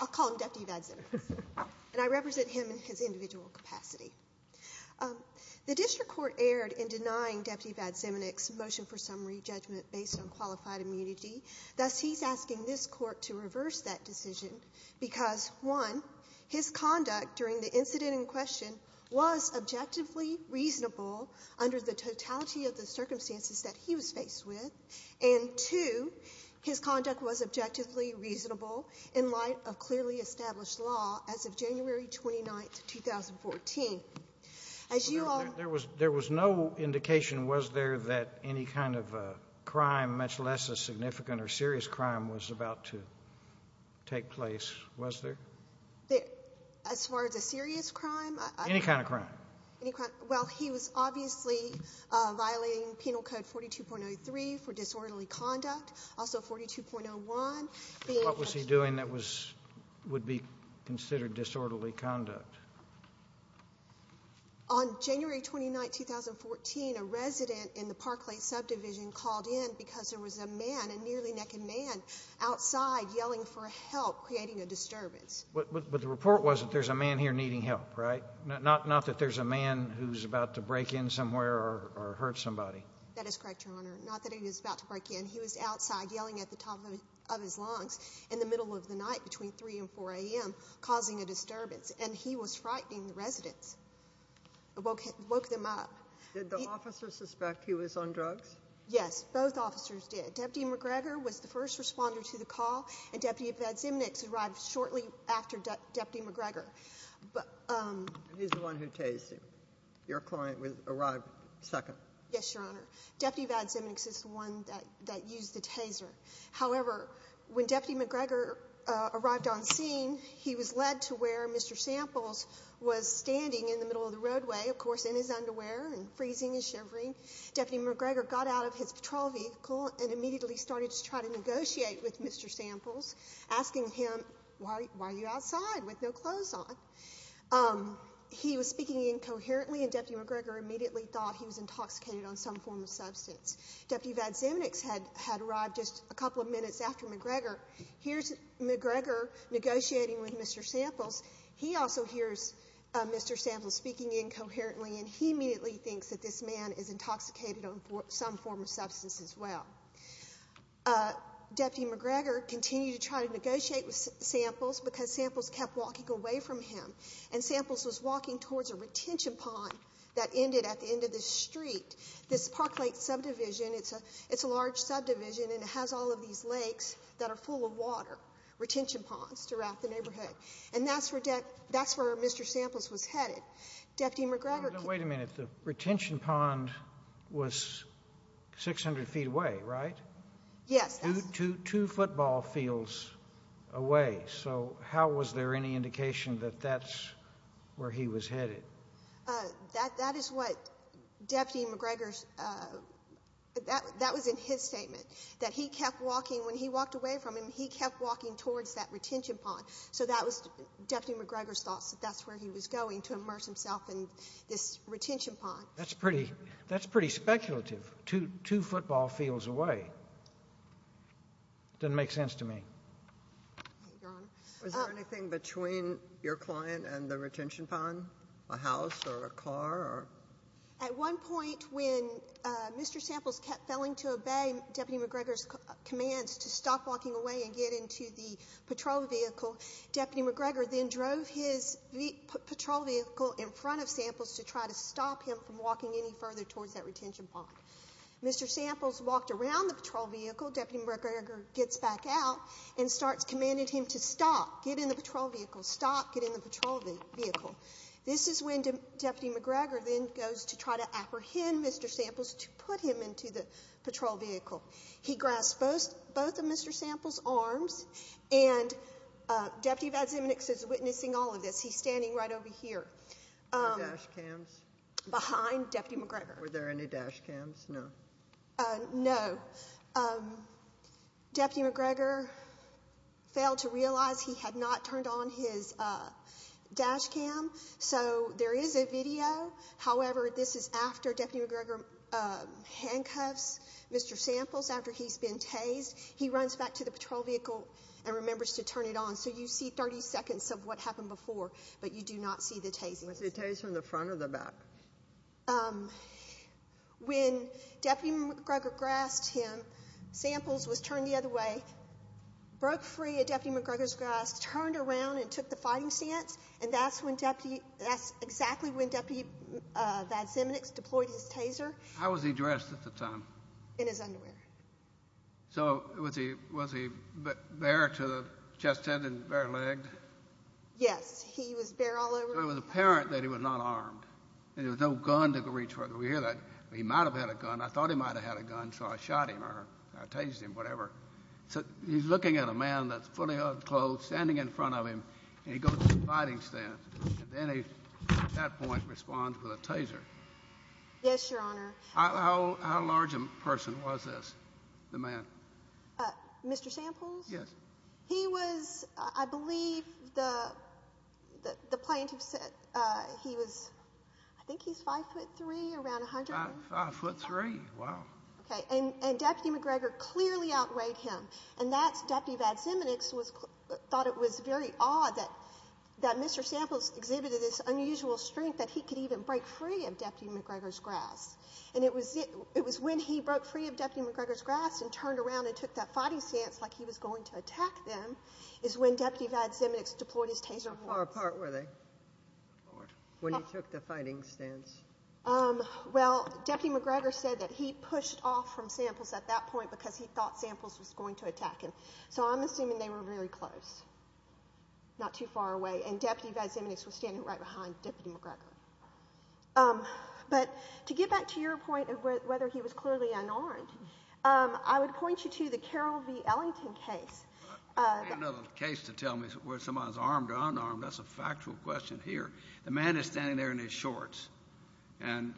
I'll call him Deputy Vadziminick and I represent him in his individual capacity. The district court erred in denying Deputy Vadziminick's motion for summary judgment based on qualified immunity. Thus, he's asking this Court to reverse that decision because, one, his conduct during the incident in question was objectively reasonable under the totality of the circumstances that he was faced with, and, two, his conduct was objectively reasonable in light of clearly established law as of January 29th, 2014. As you all ---- was there that any kind of a crime, much less a significant or serious crime, was about to take place? Was there? As far as a serious crime? Any kind of crime. Well, he was obviously violating Penal Code 42.03 for disorderly conduct, also 42.01. What was he doing that was ---- would be considered disorderly conduct? On January 29th, 2014, a resident in the Park Lake Subdivision called in because there was a man, a nearly-naked man, outside yelling for help, creating a disturbance. But the report was that there's a man here needing help, right? Not that there's a man who's about to break in somewhere or hurt somebody. That is correct, Your Honor. Not that he was about to break in. He was outside yelling at the top of his lungs in the middle of the night, between 3 and 4 a.m., causing a disturbance. And he was frightening the residents, woke them up. Did the officer suspect he was on drugs? Yes, both officers did. Deputy McGregor was the first responder to the call, and Deputy Vadzimniks arrived shortly after Deputy McGregor. But ---- He's the one who tased him. Your client arrived second. Yes, Your Honor. Deputy Vadzimniks is the one that used the taser. However, when Deputy McGregor arrived on scene, he was led to where Mr. Samples was standing in the middle of the roadway, of course, in his underwear and freezing and shivering. Deputy McGregor got out of his patrol vehicle and immediately started to try to negotiate with Mr. Samples, asking him, why are you outside with no clothes on? He was speaking incoherently, and Deputy McGregor immediately thought he was intoxicated on some form of substance. Deputy Vadzimniks had arrived just a couple of minutes after McGregor. Here's McGregor negotiating with Mr. Samples. He also hears Mr. Samples speaking incoherently, and he immediately thinks that this man is intoxicated on some form of substance as well. Deputy McGregor continued to try to negotiate with Samples because Samples kept walking away from him, and Samples was walking towards a retention pond that ended at the end of the street. This Park Lake subdivision, it's a large subdivision, and it has all of these lakes that are full of water, retention ponds, to wrap the neighborhood. And that's where Mr. Samples was headed. Deputy McGregor... Wait a minute. The retention pond was 600 feet away, right? Yes. Two football fields away. So how was there any indication that that's where he was headed? That is what Deputy McGregor's — that was in his statement, that he kept walking — when he walked away from him, he kept walking towards that retention pond. So that was Deputy McGregor's thoughts, that that's where he was going, to immerse himself in this retention pond. That's pretty speculative, two football fields away. It doesn't make sense to me. Your Honor. Was there anything between your client and the retention pond? A house or a car or... At one point, when Mr. Samples kept failing to obey Deputy McGregor's commands to stop walking away and get into the patrol vehicle, Deputy McGregor then drove his patrol vehicle in front of Samples to try to stop him from walking any further towards that retention pond. Mr. Samples walked around the patrol vehicle. Deputy McGregor gets back out and starts commanding him to stop, get in the patrol vehicle, stop, get in the patrol vehicle. This is when Deputy McGregor then goes to try to apprehend Mr. Samples to put him into the patrol vehicle. He grasped both of Mr. Samples' arms, and Deputy Vadzimnik is witnessing all of this. He's standing right over here. Were there dash cams? Behind Deputy McGregor. Were there any dash cams? No. No. Deputy McGregor failed to realize he had not turned on his dash cam, so there is a video. However, this is after Deputy McGregor handcuffs Mr. Samples after he's been tased. He runs back to the patrol vehicle and remembers to turn it on, so you see 30 seconds of what happened before, but you do not see the tasing. Was it tased from the front or the back? Um, when Deputy McGregor grasped him, Samples was turned the other way, broke free of Deputy McGregor's grasp, turned around and took the fighting stance, and that's when Deputy, that's exactly when Deputy Vadzimnik deployed his taser. How was he dressed at the time? In his underwear. So was he bare to the chest end and bare-legged? Yes, he was bare all over. It was apparent that he was not armed, and there was no gun to reach for. We hear that he might have had a gun. I thought he might have had a gun, so I shot him or I tased him, whatever. So he's looking at a man that's fully unclothed, standing in front of him, and he goes to the fighting stance, and then he, at that point, responds with a taser. Yes, Your Honor. How large a person was this, the man? Mr. Samples? Yes. He was, I believe, the plaintiff said he was, I think he's 5'3", around 100. 5'3", wow. Okay, and Deputy McGregor clearly outweighed him, and that's, Deputy Vadzimnik thought it was very odd that Mr. Samples exhibited this unusual strength that he could even break free of Deputy McGregor's grasp, and it was when he broke free of Deputy McGregor's grasp and turned around and took that fighting stance like he was going to attack them, is when Deputy Vadzimnik deployed his taser. How far apart were they when he took the fighting stance? Well, Deputy McGregor said that he pushed off from Samples at that point because he thought Samples was going to attack him, so I'm assuming they were very close, not too far away, and Deputy Vadzimnik was standing right behind Deputy McGregor. But to get back to your point of whether he was clearly unarmed, I would point you to the Carroll v. Ellington case. I don't need another case to tell me whether somebody's armed or unarmed. That's a factual question here. The man is standing there in his shorts and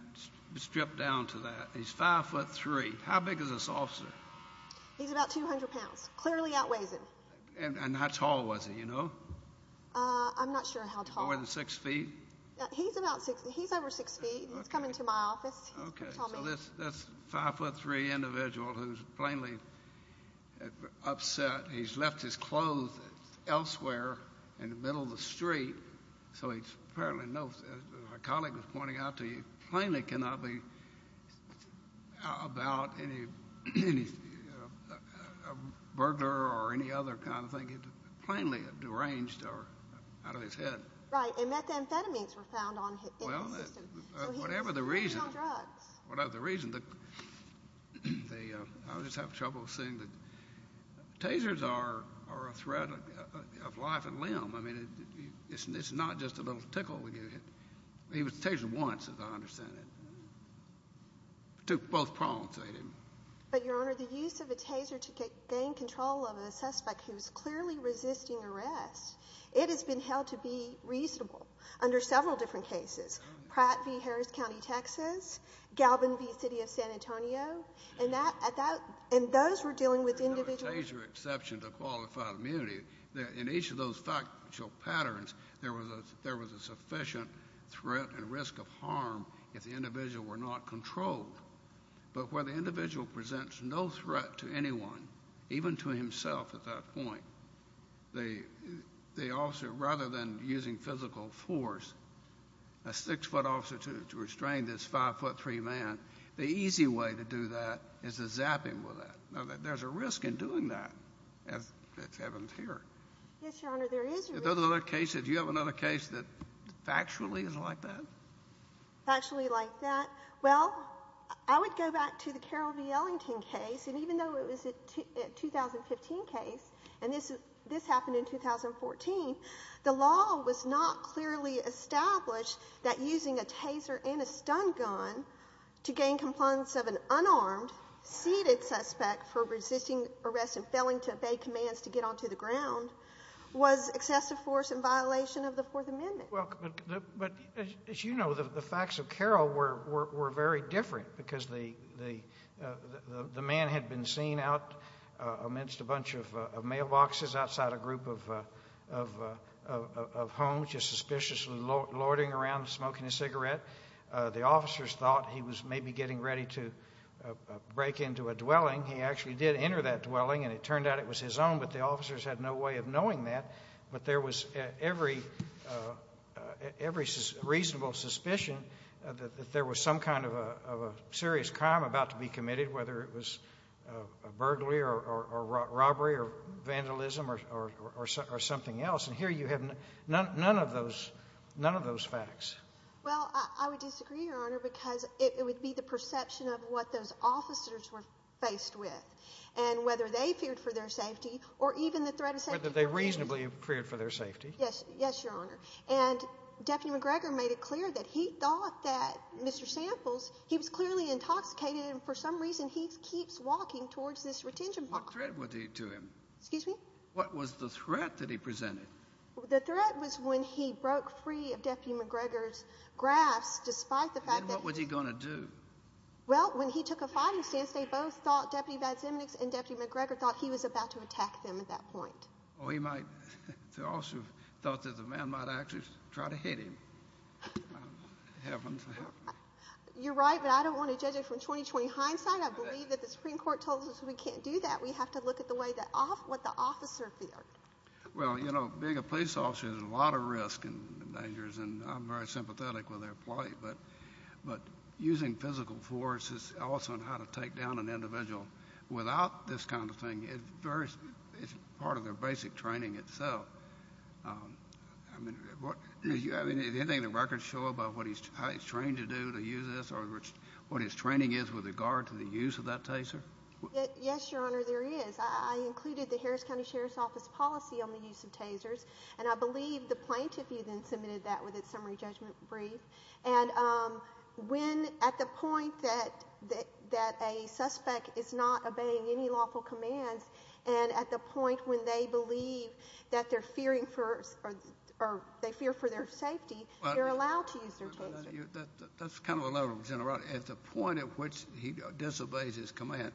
stripped down to that. He's 5'3". How big is this officer? He's about 200 pounds. Clearly outweighs him. And how tall was he, you know? I'm not sure how tall. More than 6 feet? He's about 6 feet. He's over 6 feet. He's coming to my office. Okay, so that's a 5'3 individual who's plainly upset. He's left his clothes elsewhere in the middle of the street. So he's apparently not, as my colleague was pointing out to you, plainly cannot be about any burglar or any other kind of thing. He's plainly deranged or out of his head. Right, and methamphetamines were found in his system. Whatever the reason, I just have trouble seeing that tasers are a threat of life and limb. I mean, it's not just a little tickle. He was tasered once, as I understand it. Took both palms, they didn't. But, Your Honor, the use of a taser to gain control of a suspect who's clearly resisting arrest, it has been held to be reasonable under several different cases. Pratt v. Harris County, Texas. Galvin v. City of San Antonio. And those were dealing with individuals— There's no taser exception to qualified immunity. In each of those factual patterns, there was a sufficient threat and risk of harm if the individual were not controlled. But where the individual presents no threat to anyone, even to himself at that point, the officer, rather than using physical force, a 6-foot officer to restrain this 5-foot-3 man, the easy way to do that is to zap him with that. Now, there's a risk in doing that, as happens here. Yes, Your Honor, there is a risk. Are there other cases, do you have another case that factually is like that? Factually like that? Well, I would go back to the Carroll v. Ellington case. Even though it was a 2015 case, and this happened in 2014, the law was not clearly established that using a taser and a stun gun to gain compliance of an unarmed, seated suspect for resisting arrest and failing to obey commands to get onto the ground was excessive force in violation of the Fourth Amendment. But as you know, the facts of Carroll were very different because the man had been seen out amidst a bunch of mailboxes outside a group of homes just suspiciously lording around smoking a cigarette. The officers thought he was maybe getting ready to break into a dwelling. He actually did enter that dwelling, and it turned out it was his own, but the officers had no way of knowing that. But there was every reasonable suspicion that there was some kind of a serious crime about to be committed, whether it was a burglary or robbery or vandalism or something else. And here you have none of those facts. Well, I would disagree, Your Honor, because it would be the perception of what those officers were faced with and whether they feared for their safety or even the threat of safety. They reasonably feared for their safety. Yes. Yes, Your Honor. And Deputy McGregor made it clear that he thought that Mr. Samples, he was clearly intoxicated. And for some reason, he keeps walking towards this retention box. What threat was he to him? Excuse me? What was the threat that he presented? The threat was when he broke free of Deputy McGregor's grasp, despite the fact that he... And what was he going to do? Well, when he took a fighting stance, they both thought Deputy Vadzimniks and Deputy McGregor thought he was about to attack them at that point. The officer thought that the man might actually try to hit him. You're right, but I don't want to judge it from 20-20 hindsight. I believe that the Supreme Court told us we can't do that. We have to look at what the officer feared. Well, you know, being a police officer, there's a lot of risk and dangers, and I'm very sympathetic with their plight. But using physical force is also how to take down an individual. Without this kind of thing, it's part of their basic training itself. I mean, do you have anything in the records show about how he's trained to do, to use this, or what his training is with regard to the use of that taser? Yes, Your Honor, there is. I included the Harris County Sheriff's Office policy on the use of tasers, and I believe the plaintiff even submitted that with its summary judgment brief. And when, at the point that a suspect is not obeying any lawful commands, and at the point when they believe that they're fearing for, or they fear for their safety, they're allowed to use their taser. That's kind of the level of generality. At the point at which he disobeys his command,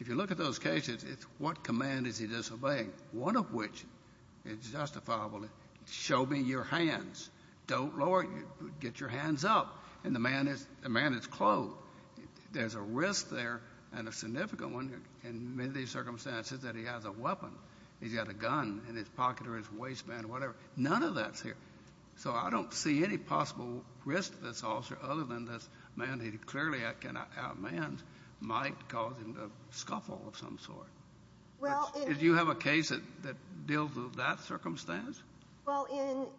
if you look at those cases, it's what command is he disobeying? One of which is justifiably, show me your hands. Don't lower, get your hands up. And the man is clothed. There's a risk there, and a significant one, in many of these circumstances, that he has a weapon. He's got a gun in his pocket, or his waistband, whatever. None of that's here. So I don't see any possible risk to this officer, other than this man, he clearly outmanned, might cause him to scuffle of some sort. Did you have a case that deals with that circumstance? Well,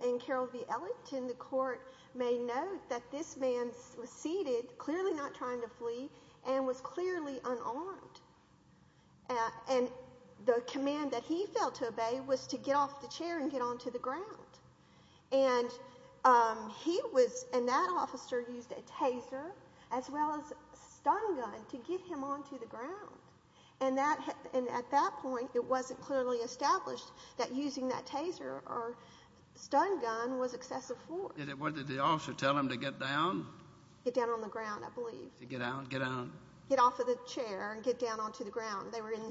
in Carroll v. Ellington, the court may note that this man was seated, clearly not trying to flee, and was clearly unarmed. And the command that he failed to obey was to get off the chair and get onto the ground. And he was, and that officer used a taser, as well as a stun gun, to get him onto the ground. And at that point, it wasn't clearly established that using that taser or stun gun was excessive force. And what did the officer tell him to get down? Get down on the ground, I believe. To get out, get out? Get off of the chair and get down onto the ground. They were in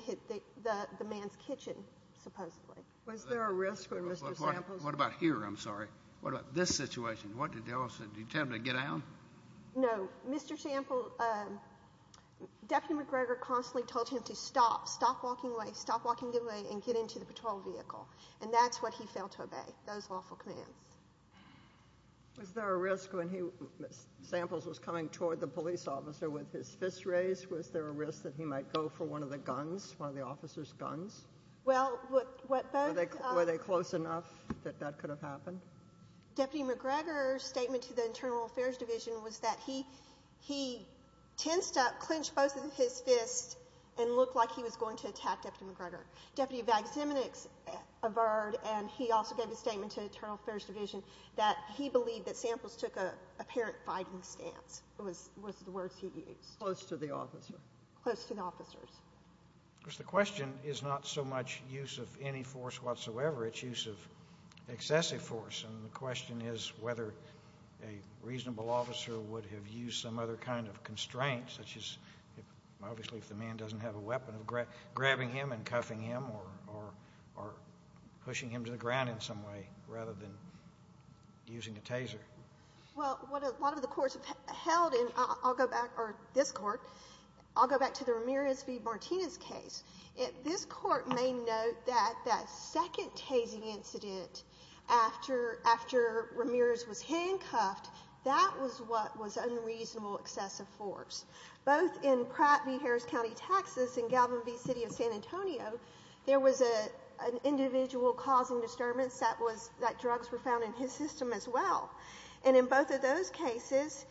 the man's kitchen, supposedly. Was there a risk with Mr. Samples? What about here? I'm sorry. What about this situation? What did the officer, did he tell him to get out? No. Mr. Samples, Deputy McGregor constantly told him to stop. Stop walking away. And get into the patrol vehicle. And that's what he failed to obey. Those lawful commands. Was there a risk when he, Samples was coming toward the police officer with his fists raised, was there a risk that he might go for one of the guns? One of the officer's guns? Well, what both... Were they close enough that that could have happened? Deputy McGregor's statement to the Internal Affairs Division was that he tensed up, clenched both of his fists, and looked like he was going to attack Deputy McGregor. Deputy Vaximinix averred, and he also gave a statement to the Internal Affairs Division that he believed that Samples took an apparent fighting stance, was the words he used. Close to the officer. Close to the officers. Of course, the question is not so much use of any force whatsoever, it's use of excessive force. And the question is whether a reasonable officer would have used some other kind of constraint, such as, obviously, if the man doesn't have a weapon, grabbing him and cuffing him, or pushing him to the ground in some way, rather than using a taser. Well, what a lot of the courts have held, and I'll go back, or this Court, I'll go back to the Ramirez v. Martinez case. This Court may note that that second tasing incident after Ramirez was handcuffed, that was what was unreasonable excessive force. Both in Pratt v. Harris County, Texas, and Galvin v. City of San Antonio, there was an individual causing disturbance that drugs were found in his system as well. And in both of those cases,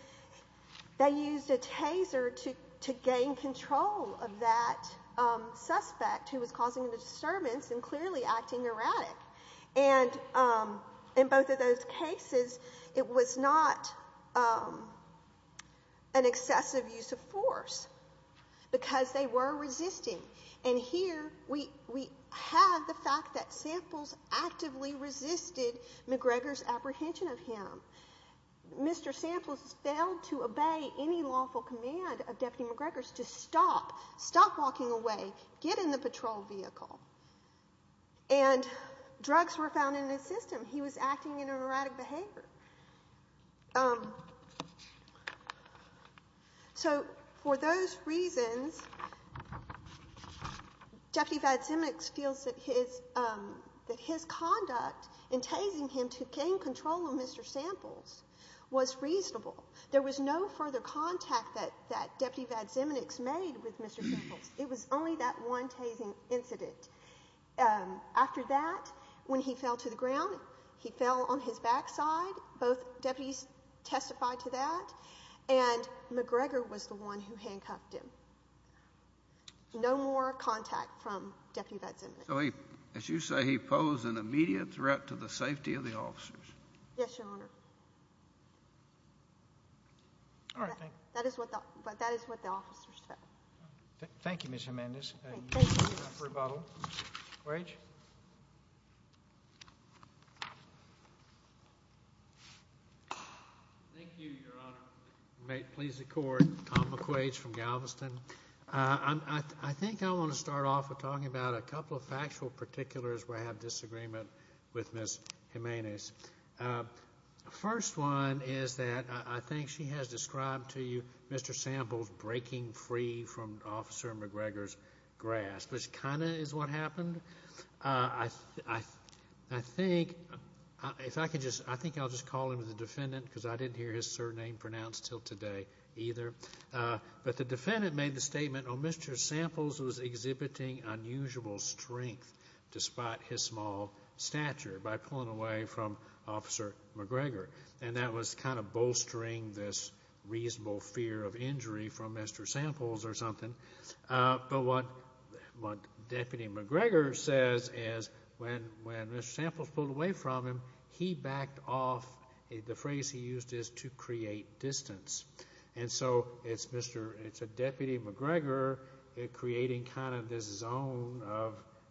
they used a taser to gain control of that suspect who was causing a disturbance and clearly acting erratic. And in both of those cases, it was not an excessive use of force because they were resisting. And here, we have the fact that Samples actively resisted McGregor's apprehension of him. Mr. Samples failed to obey any lawful command of Deputy McGregor's to stop. Stop walking away. Get in the patrol vehicle. And drugs were found in his system. He was acting in an erratic behavior. So for those reasons, Deputy Vadziminic feels that his conduct in tasing him to gain control of Mr. Samples was reasonable. There was no further contact that Deputy Vadziminic made with Mr. Samples. It was only that one tasing incident. And after that, when he fell to the ground, he fell on his backside. Both deputies testified to that. And McGregor was the one who handcuffed him. No more contact from Deputy Vadziminic. So as you say, he posed an immediate threat to the safety of the officers. Yes, Your Honor. All right. That is what the officers said. Thank you, Ms. Jimenez. Thank you. Thank you, Your Honor. Please accord. Tom McQuaid from Galveston. I think I want to start off with talking about a couple of factual particulars where I have disagreement with Ms. Jimenez. First one is that I think she has described to you Mr. Samples breaking free from Officer McGregor's grasp, which kind of is what happened. I think I'll just call him the defendant because I didn't hear his surname pronounced till today either. But the defendant made the statement, oh, Mr. Samples was exhibiting unusual strength despite his small stature by pulling away from Officer McGregor. And that was kind of bolstering this reasonable fear of injury from Mr. Samples or something. But what Deputy McGregor says is when Mr. Samples pulled away from him, he backed off. The phrase he used is to create distance. And so it's a Deputy McGregor creating kind of this zone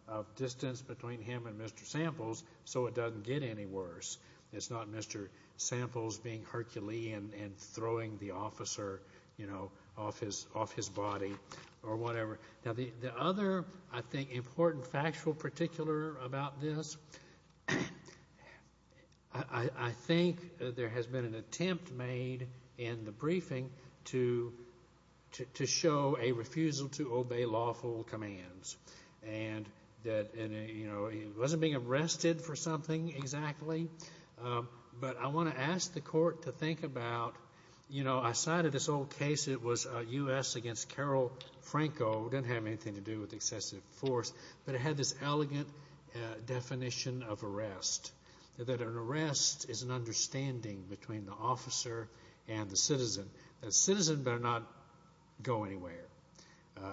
of distance between him and Mr. Samples so it doesn't get any worse. It's not Mr. Samples being Herculean and throwing the officer off his body. Or whatever. Now, the other, I think, important factual particular about this, I think there has been an attempt made in the briefing to show a refusal to obey lawful commands. And that, you know, he wasn't being arrested for something exactly. But I want to ask the court to think about, you know, I cited this old case. It was U.S. against Carol Franco. It didn't have anything to do with excessive force. But it had this elegant definition of arrest. That an arrest is an understanding between the officer and the citizen. That citizen better not go anywhere.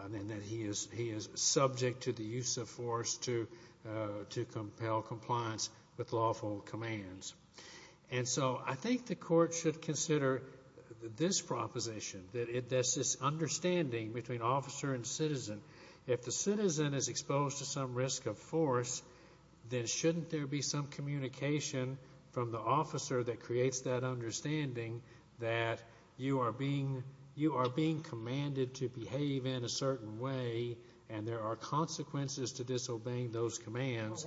And that he is subject to the use of force to compel compliance with lawful commands. And so I think the court should consider this proposition. That's this understanding between officer and citizen. If the citizen is exposed to some risk of force, then shouldn't there be some communication from the officer that creates that understanding that you are being commanded to behave in a certain way and there are consequences to disobeying those commands.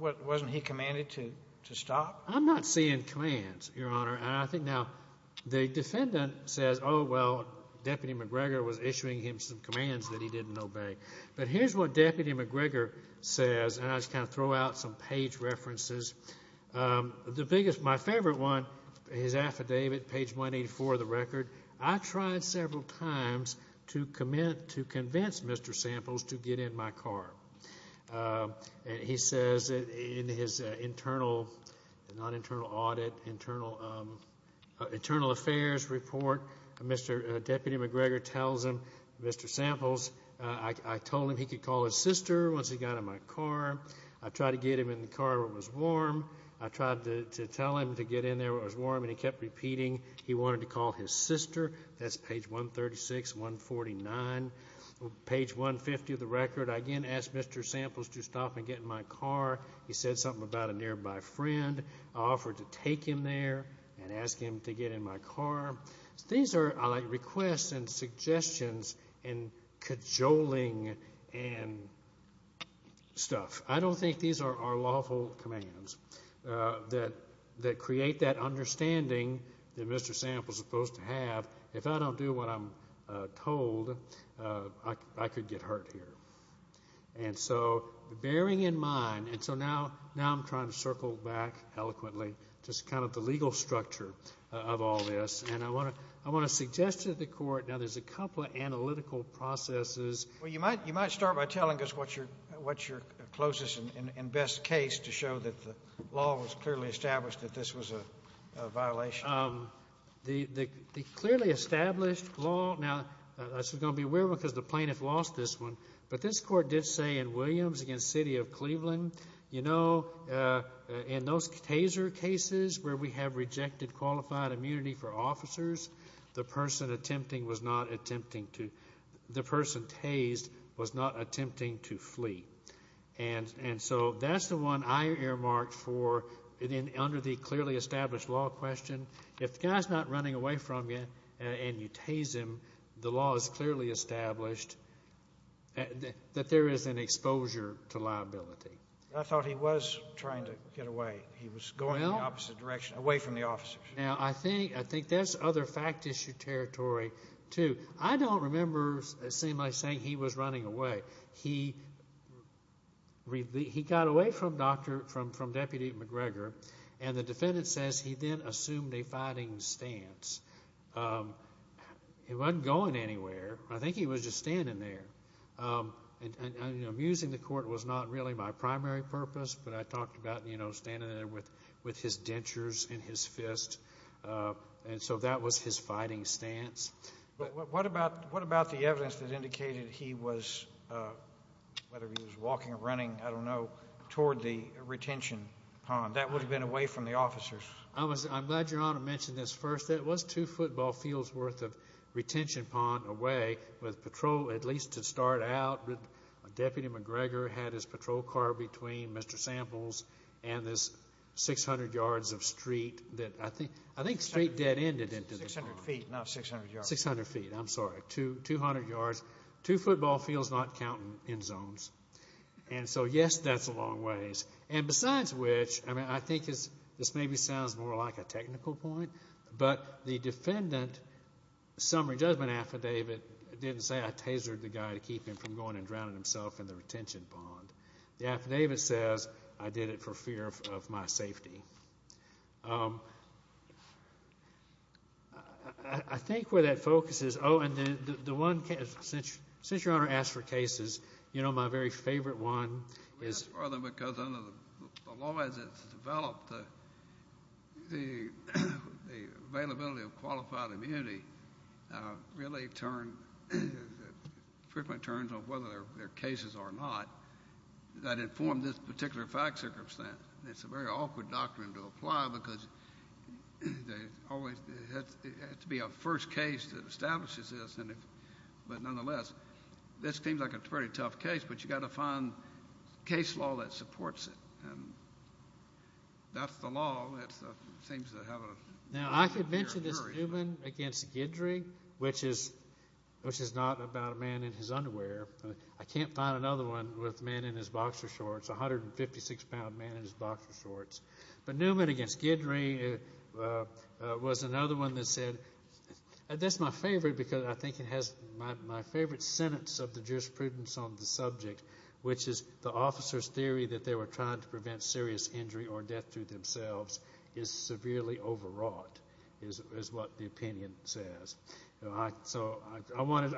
But wasn't he commanded to stop? I'm not seeing commands, Your Honor. And I think now the defendant says, oh, well, Deputy McGregor was issuing him some commands that he didn't obey. But here's what Deputy McGregor says. And I'll just kind of throw out some page references. The biggest, my favorite one, his affidavit, page 184 of the record. I tried several times to convince Mr. Samples to get in my car. And he says in his internal, not internal audit, internal affairs report, Mr. Deputy McGregor tells him, Mr. Samples, I told him he could call his sister once he got in my car. I tried to get him in the car where it was warm. I tried to tell him to get in there where it was warm and he kept repeating he wanted to call his sister. That's page 136, 149, page 150 of the record. I again asked Mr. Samples to stop and get in my car. He said something about a nearby friend. I offered to take him there and ask him to get in my car. These are like requests and suggestions and cajoling and stuff. I don't think these are lawful commands that create that understanding that Mr. Samples is supposed to have. If I don't do what I'm told, I could get hurt here. And so bearing in mind, now I'm trying to circle back eloquently just kind of the legal structure of all this. I want to suggest to the court, now there's a couple of analytical processes. You might start by telling us what's your closest and best case to show that the law was clearly established that this was a violation. The clearly established law, now this is going to be weird because the plaintiff lost this one, but this court did say in Williams against City of Cleveland, you know, in those taser cases where we have rejected qualified immunity for officers, the person attempting was not attempting to, the person tased was not attempting to flee. And so that's the one I earmarked for under the clearly established law question. If the guy's not running away from you and you tase him, the law is clearly established that there is an exposure to liability. I thought he was trying to get away. He was going in the opposite direction, away from the officers. Now, I think that's other fact issue territory too. I don't remember it seemed like saying he was running away. He got away from Deputy McGregor and the defendant says he then assumed a fighting stance. He wasn't going anywhere. I think he was just standing there. And, you know, musing the court was not really my primary purpose, but I talked about, you know, standing there with his dentures in his fist. And so that was his fighting stance. What about the evidence that indicated he was, whether he was walking or running, I don't know, toward the retention pond? That would have been away from the officers. I'm glad Your Honor mentioned this first. It was two football fields worth of retention pond away with patrol, at least to start out. Deputy McGregor had his patrol car between Mr. Samples and this 600 yards of street that I think, I think straight dead ended into the pond. 600 feet, not 600 yards. 600 feet, I'm sorry, 200 yards, two football fields, not counting end zones. And so, yes, that's a long ways. And besides which, I mean, I think this maybe sounds more like a technical point, but the defendant summary judgment affidavit didn't say I tasered the guy to keep him from going and drowning himself in the retention pond. The affidavit says I did it for fear of my safety. I think where that focuses, oh, and the one case, since Your Honor asked for cases, you know, my very favorite one is... The availability of qualified immunity really turned, frequently turns on whether there are cases or not that inform this particular fact circumstance. It's a very awkward doctrine to apply because there always has to be a first case that establishes this. But nonetheless, this seems like a pretty tough case, but you got to find case law that supports it. And that's the law. All that stuff seems to have a... Now, I could mention this Newman v. Guidry, which is not about a man in his underwear. I can't find another one with a man in his boxer shorts, a 156-pound man in his boxer shorts. But Newman v. Guidry was another one that said... That's my favorite because I think it has my favorite sentence of the jurisprudence on the subject, which is the officer's theory that they were trying to prevent serious injury or death to themselves is severely overwrought, is what the opinion says. So I wanted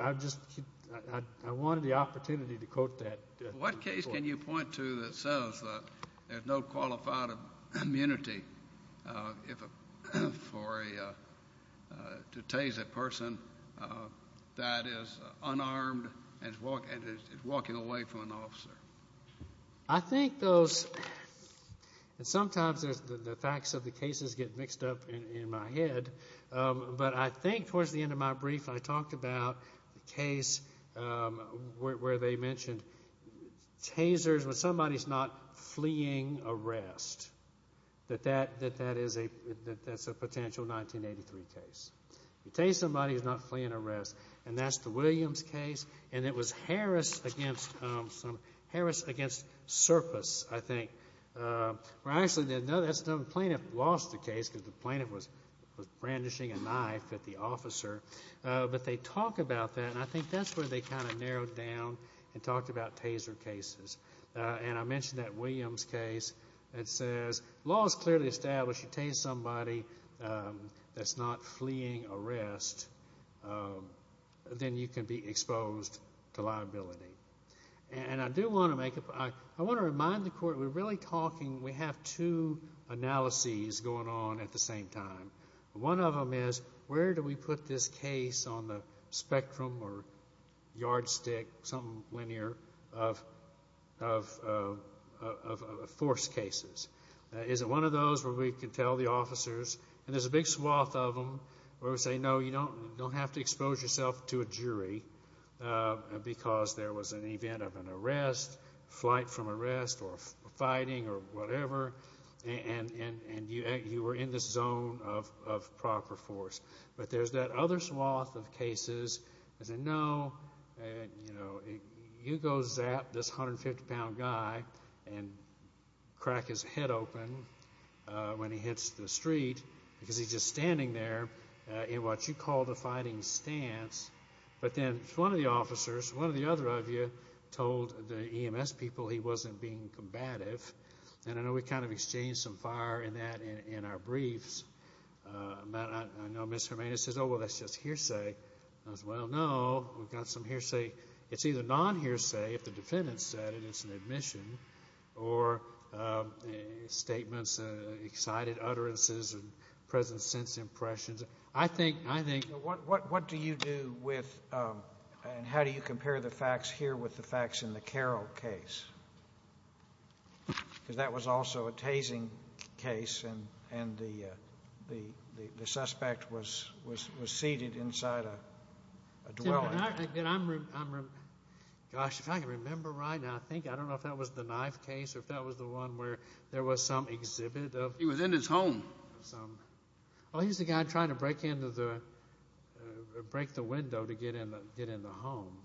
the opportunity to quote that. What case can you point to that says that there's no qualified immunity to tase a person that is unarmed and is walking away from an officer? I think those... And sometimes the facts of the cases get mixed up in my head, but I think towards the end of my brief, I talked about the case where they mentioned tasers when somebody's not fleeing arrest, that that's a potential 1983 case. You tase somebody who's not fleeing arrest, and that's the Williams case, and it was Harris against Serpis, I think. Well, actually, the plaintiff lost the case because the plaintiff was brandishing a knife at the officer, but they talk about that, and I think that's where they kind of narrowed down and talked about taser cases. And I mentioned that Williams case that says, law is clearly established. You tase somebody that's not fleeing arrest, and then you can be exposed to liability. And I do want to make a... I want to remind the court, we're really talking... We have two analyses going on at the same time. One of them is, where do we put this case on the spectrum or yardstick, something linear, of force cases? Is it one of those where we can tell the officers... And there's a big swath of them where we say, you don't have to expose yourself to a jury because there was an event of an arrest, flight from arrest, or fighting, or whatever, and you were in this zone of proper force. But there's that other swath of cases that say, no, you go zap this 150-pound guy and crack his head open when he hits the street because he's just standing there in what you call the fighting stance. But then one of the officers, one of the other of you, told the EMS people he wasn't being combative. And I know we kind of exchanged some fire in that in our briefs. I know Ms. Jimenez says, oh, well, that's just hearsay. I said, well, no, we've got some hearsay. It's either non-hearsay, if the defendant said it, it's an admission, or statements, excited utterances, and present sense impressions. What do you do with, and how do you compare the facts here with the facts in the Carroll case? Because that was also a tasing case, and the suspect was seated inside a dwelling. Gosh, if I can remember right now, I think, I don't know if that was the Knife case, or if that was the one where there was some exhibit of... He was in his home. Well, he's the guy trying to break into the, break the window to get in the home.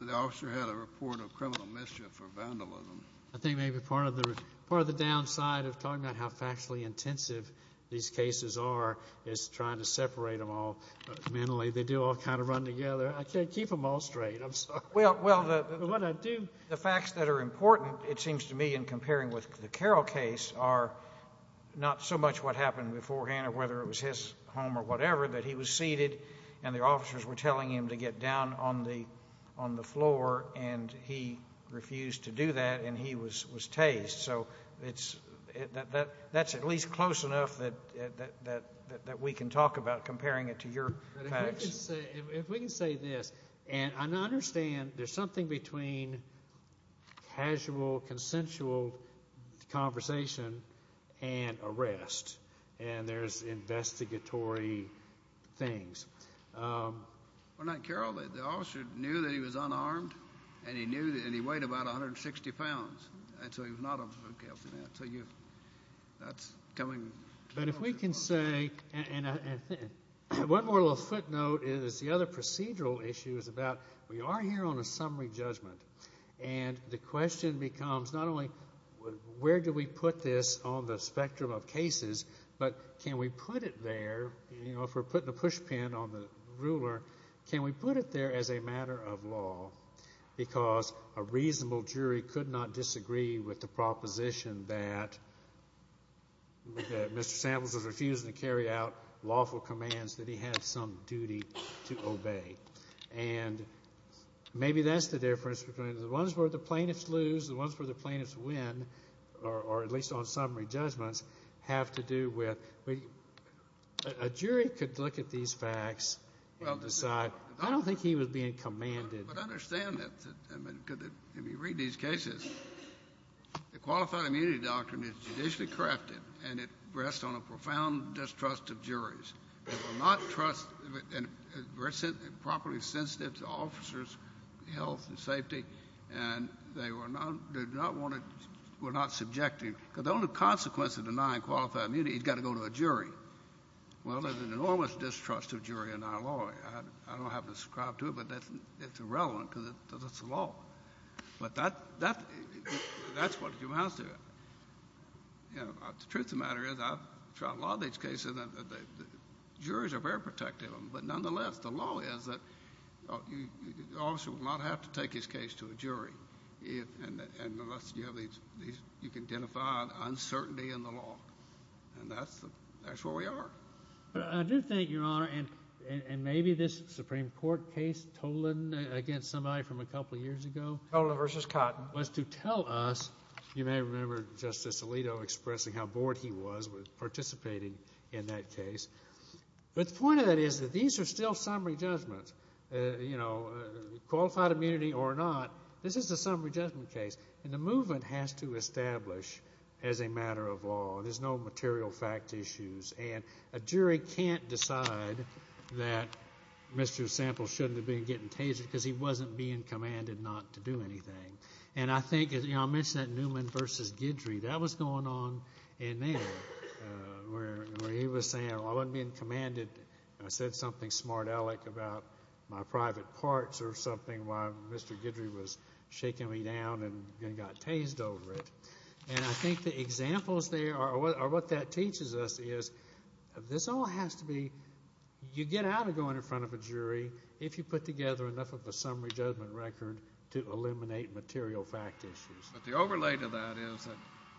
The officer had a report of criminal mischief or vandalism. I think maybe part of the downside of talking about how factually intensive these cases are is trying to separate them all mentally. They do all kind of run together. I can't keep them all straight. I'm sorry. Well, the facts that are important, it seems to me, in comparing with the Carroll case are not so much what happened beforehand, or whether it was his home or whatever, but he was seated, and the officers were telling him to get down on the floor, and he refused to do that, and he was tased. So that's at least close enough that we can talk about comparing it to your facts. If we can say this, and I understand there's something between casual, consensual conversation and arrest, and there's investigatory things. Well, not Carroll. The officer knew that he was unarmed, and he weighed about 160 pounds, and so he was not a food counselor. So that's coming. But if we can say, one more little footnote is the other procedural issue is about we are here on a summary judgment, and the question becomes not only where do we put this on the spectrum of cases, but can we put it there? You know, if we're putting a push pin on the ruler, can we put it there as a matter of law? Because a reasonable jury could not disagree with the proposition that Mr. Samples was refusing to carry out lawful commands that he had some duty to obey. And maybe that's the difference between the ones where the plaintiffs lose, the ones where the plaintiffs win, or at least on summary judgments, have to do with. A jury could look at these facts and decide, I don't think he was being commanded. But I understand that. If you read these cases, the qualified immunity doctrine is judicially crafted, and it rests on a profound distrust of juries. They will not trust, properly sensitive to officers' health and safety, and they do not want to, will not subject him. Because the only consequence of denying qualified immunity, he's got to go to a jury. Well, there's an enormous distrust of jury in our law. I don't have to subscribe to it, but it's irrelevant because it's the law. But that's what amounts to it. You know, the truth of the matter is, I've tried a lot of these cases, and the juries are very protective of them. But nonetheless, the law is that you also will not have to take his case to a jury unless you have these, you can identify uncertainty in the law. And that's where we are. But I do think, Your Honor, and maybe this Supreme Court case, Tolan against somebody from a couple of years ago. Tolan versus Cotton. Was to tell us, you may remember Justice Alito expressing how bored he was with participating in that case. But the point of that is that these are still summary judgments. You know, qualified immunity or not, this is a summary judgment case. And the movement has to establish as a matter of law. There's no material fact issues. And a jury can't decide that Mr. Sample shouldn't have been getting tasered because he wasn't being commanded not to do anything. And I think, you know, I mentioned that Newman versus Guidry. That was going on in there where he was saying, well, I wasn't being commanded. And I said something smart aleck about my private parts or something while Mr. Guidry was shaking me down and then got tased over it. And I think the examples there are what that teaches us is this all has to be, you get out of going in front of a jury if you put together enough of a summary judgment record to eliminate material fact issues. But the overlay to that is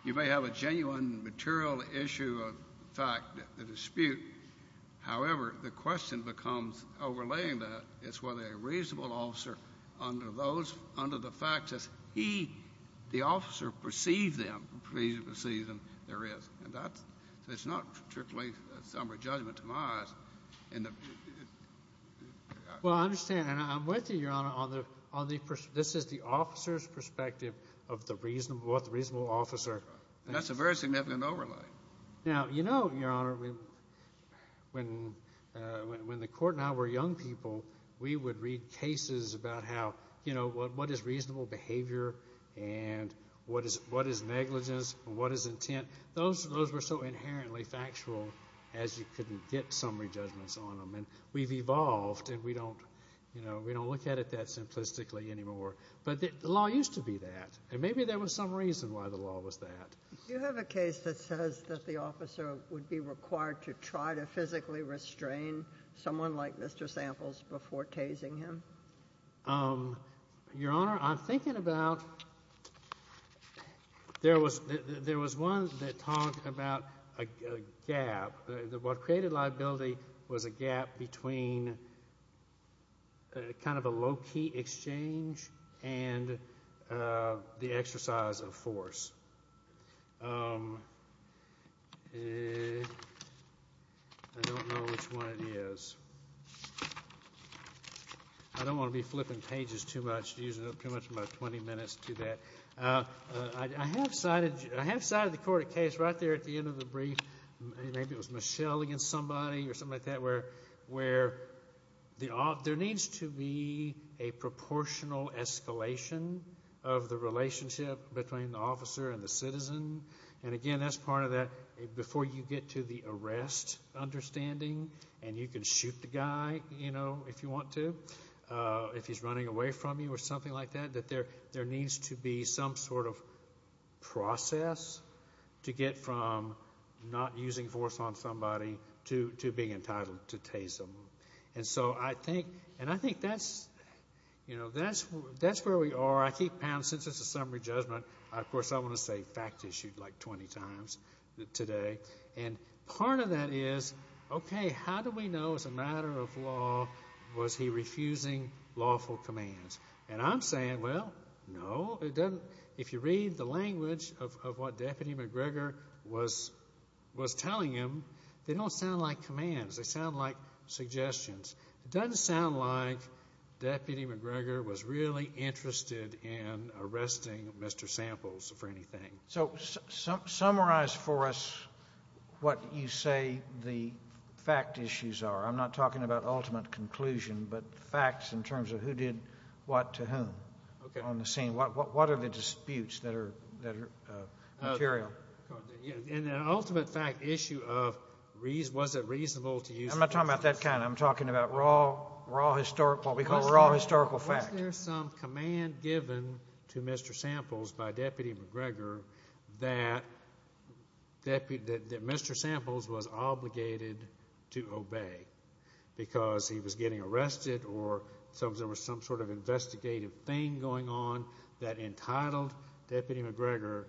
you may have a genuine material issue of fact, a dispute. However, the question becomes, overlaying that, is whether a reasonable officer under those, under the facts as he, the officer, perceives them, perceives them, there is. And that's, it's not particularly a summary judgment to my eyes. Well, I understand. And I'm with you, Your Honor, on the, on the, this is the officer's perspective of the reasonable, what the reasonable officer. That's a very significant overlay. Now, you know, Your Honor, when, when the court and I were young people, we would read cases about how, you know, what, what is reasonable behavior and what is, what is negligence and what is intent. Those, those were so inherently factual as you couldn't get summary judgments on them. And we've evolved and we don't, you know, we don't look at it that simplistically anymore. But the law used to be that. And maybe there was some reason why the law was that. Do you have a case that says that the officer would be required to try to physically restrain someone like Mr. Samples before tasing him? Um, Your Honor, I'm thinking about, there was, there was one that talked about a gap. What created liability was a gap between kind of a low-key exchange and the exercise of force. I don't know which one it is. I don't want to be flipping pages too much, using up too much of my 20 minutes to that. I have cited, I have cited the court a case right there at the end of the brief. Maybe it was Michelle against somebody or something like that where, where the, there needs to be a proportional escalation of the relationship between the officer and the citizen. And again, that's part of that, before you get to the arrest understanding and you can shoot the guy, you know, if you want to, if he's running away from you or something like that, that there, there needs to be some sort of process to get from not using force on somebody to, to being entitled to tase him. And so I think, and I think that's, you know, that's, that's where we are. I keep pounding since it's a summary judgment. Of course, I want to say fact issued like 20 times today. And part of that is, okay, how do we know as a matter of law was he refusing lawful commands? And I'm saying, well, no, it doesn't. If you read the language of what Deputy McGregor was, was telling him, they don't sound like commands. They sound like suggestions. It doesn't sound like Deputy McGregor was really interested in arresting Mr. Samples for anything. So summarize for us what you say the fact issues are. I'm not talking about ultimate conclusion, but facts in terms of who did what to whom on the scene. What, what, what are the disputes that are, that are material? In an ultimate fact issue of reason, was it reasonable to use? I'm not talking about that kind. I'm talking about raw, raw historical, what we call raw historical fact. Was there some command given to Mr. Samples by Deputy McGregor that Deputy, that Mr. Samples was obligated to obey because he was getting arrested or some, there was some sort of investigative thing going on that entitled Deputy McGregor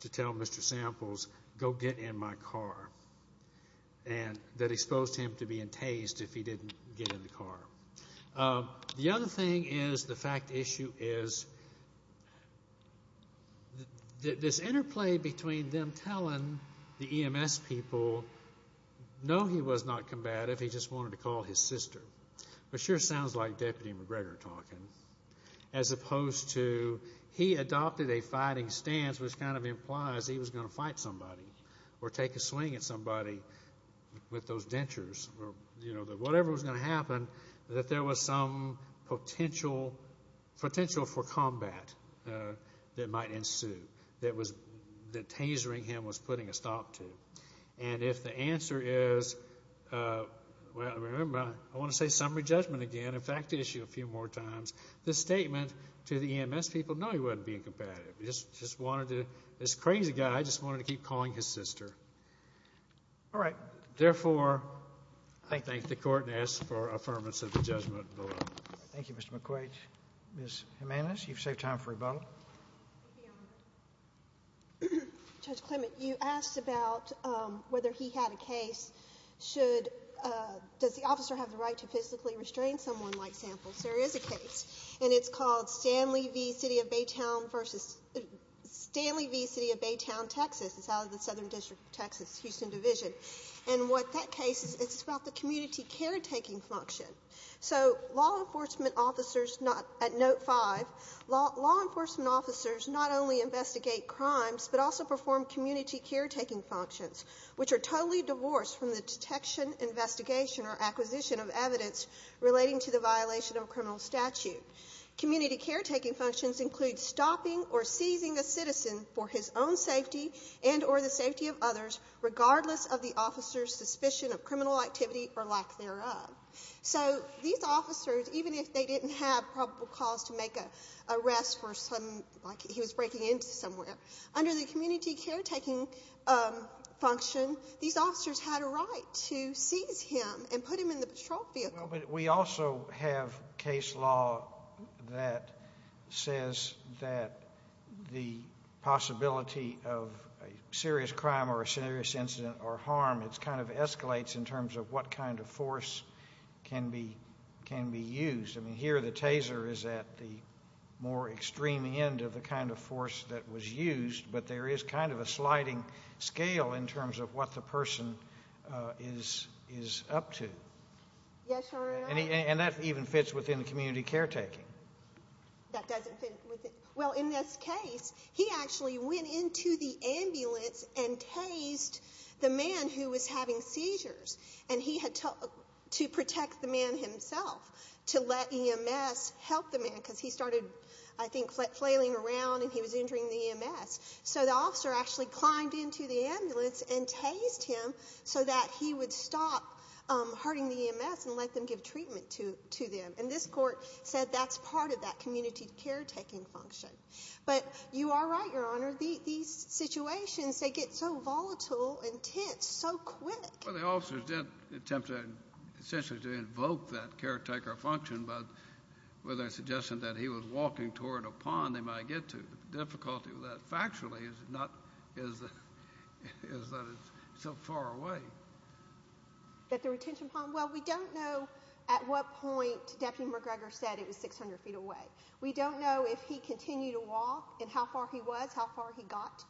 to tell Mr. Samples, go get in my car. And that exposed him to being tased if he didn't get in the car. The other thing is, the fact issue is this interplay between them telling the EMS people, no, he was not combative. He just wanted to call his sister. But sure sounds like Deputy McGregor talking, as opposed to he adopted a fighting stance, which kind of implies he was going to fight somebody or take a swing at somebody with those dentures or whatever was going to happen, that there was some potential potential for combat that might ensue that was, that tasering him was putting a stop to. And if the answer is, well, remember, I want to say summary judgment again. In fact, issue a few more times this statement to the EMS people, no, he wasn't being combative. He just wanted to, this crazy guy just wanted to keep calling his sister. All right. Therefore, I thank the court and ask for affirmance of the judgment. Thank you, Mr. McQuaid. Ms. Jimenez, you've saved time for rebuttal. Judge Clement, you asked about whether he had a case. Should, does the officer have the right to physically restrain someone like Samples? There is a case and it's called Stanley v. City of Baytown versus Stanley v. City of Baytown, Texas. Out of the Southern District of Texas, Houston Division. And what that case is, it's about the community caretaking function. So law enforcement officers, not at note five, law enforcement officers not only investigate crimes, but also perform community caretaking functions, which are totally divorced from the detection, investigation, or acquisition of evidence relating to the violation of a criminal statute. Community caretaking functions include stopping or seizing a citizen for his own safety and or the safety of others, regardless of the officer's suspicion of criminal activity or lack thereof. So these officers, even if they didn't have probable cause to make a arrest for some, like he was breaking into somewhere, under the community caretaking function, these officers had a right to seize him and put him in the patrol vehicle. But we also have case law that says that the possibility of a serious crime or a serious incident or harm, it kind of escalates in terms of what kind of force can be used. I mean, here the taser is at the more extreme end of the kind of force that was used, but there is kind of a sliding scale in terms of what the person is up to. Yes, Your Honor. And that even fits within the community caretaking. That doesn't fit with it. Well, in this case, he actually went into the ambulance and tased the man who was having seizures and he had to protect the man himself to let EMS help the man because he started, I think, flailing around and he was injuring the EMS. So the officer actually climbed into the ambulance and tased him so that he would stop hurting the EMS and let them give treatment to them. And this court said that's part of that community caretaking function. But you are right, Your Honor. These situations, they get so volatile and tense so quick. Well, the officers did attempt essentially to invoke that caretaker function, but with a suggestion that he was walking toward a pond they might get to. Difficulty with that factually is that it's so far away. That the retention pond? Well, we don't know at what point Deputy McGregor said it was 600 feet away. We don't know if he continued to walk and how far he was, how far he got,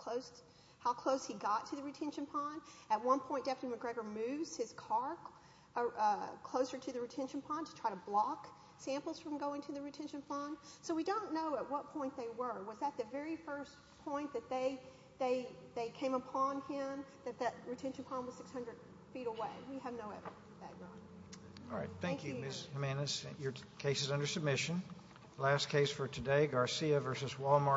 how close he got to the retention pond. At one point, Deputy McGregor moves his car closer to the retention pond to try to block samples from going to the retention pond. So we don't know at what point they were. Was that the very first point that they came upon him, that that retention pond was 600 feet away? We have no evidence of that, Your Honor. All right. Thank you, Ms. Jimenez. Your case is under submission. Last case for today, Garcia v. Walmart.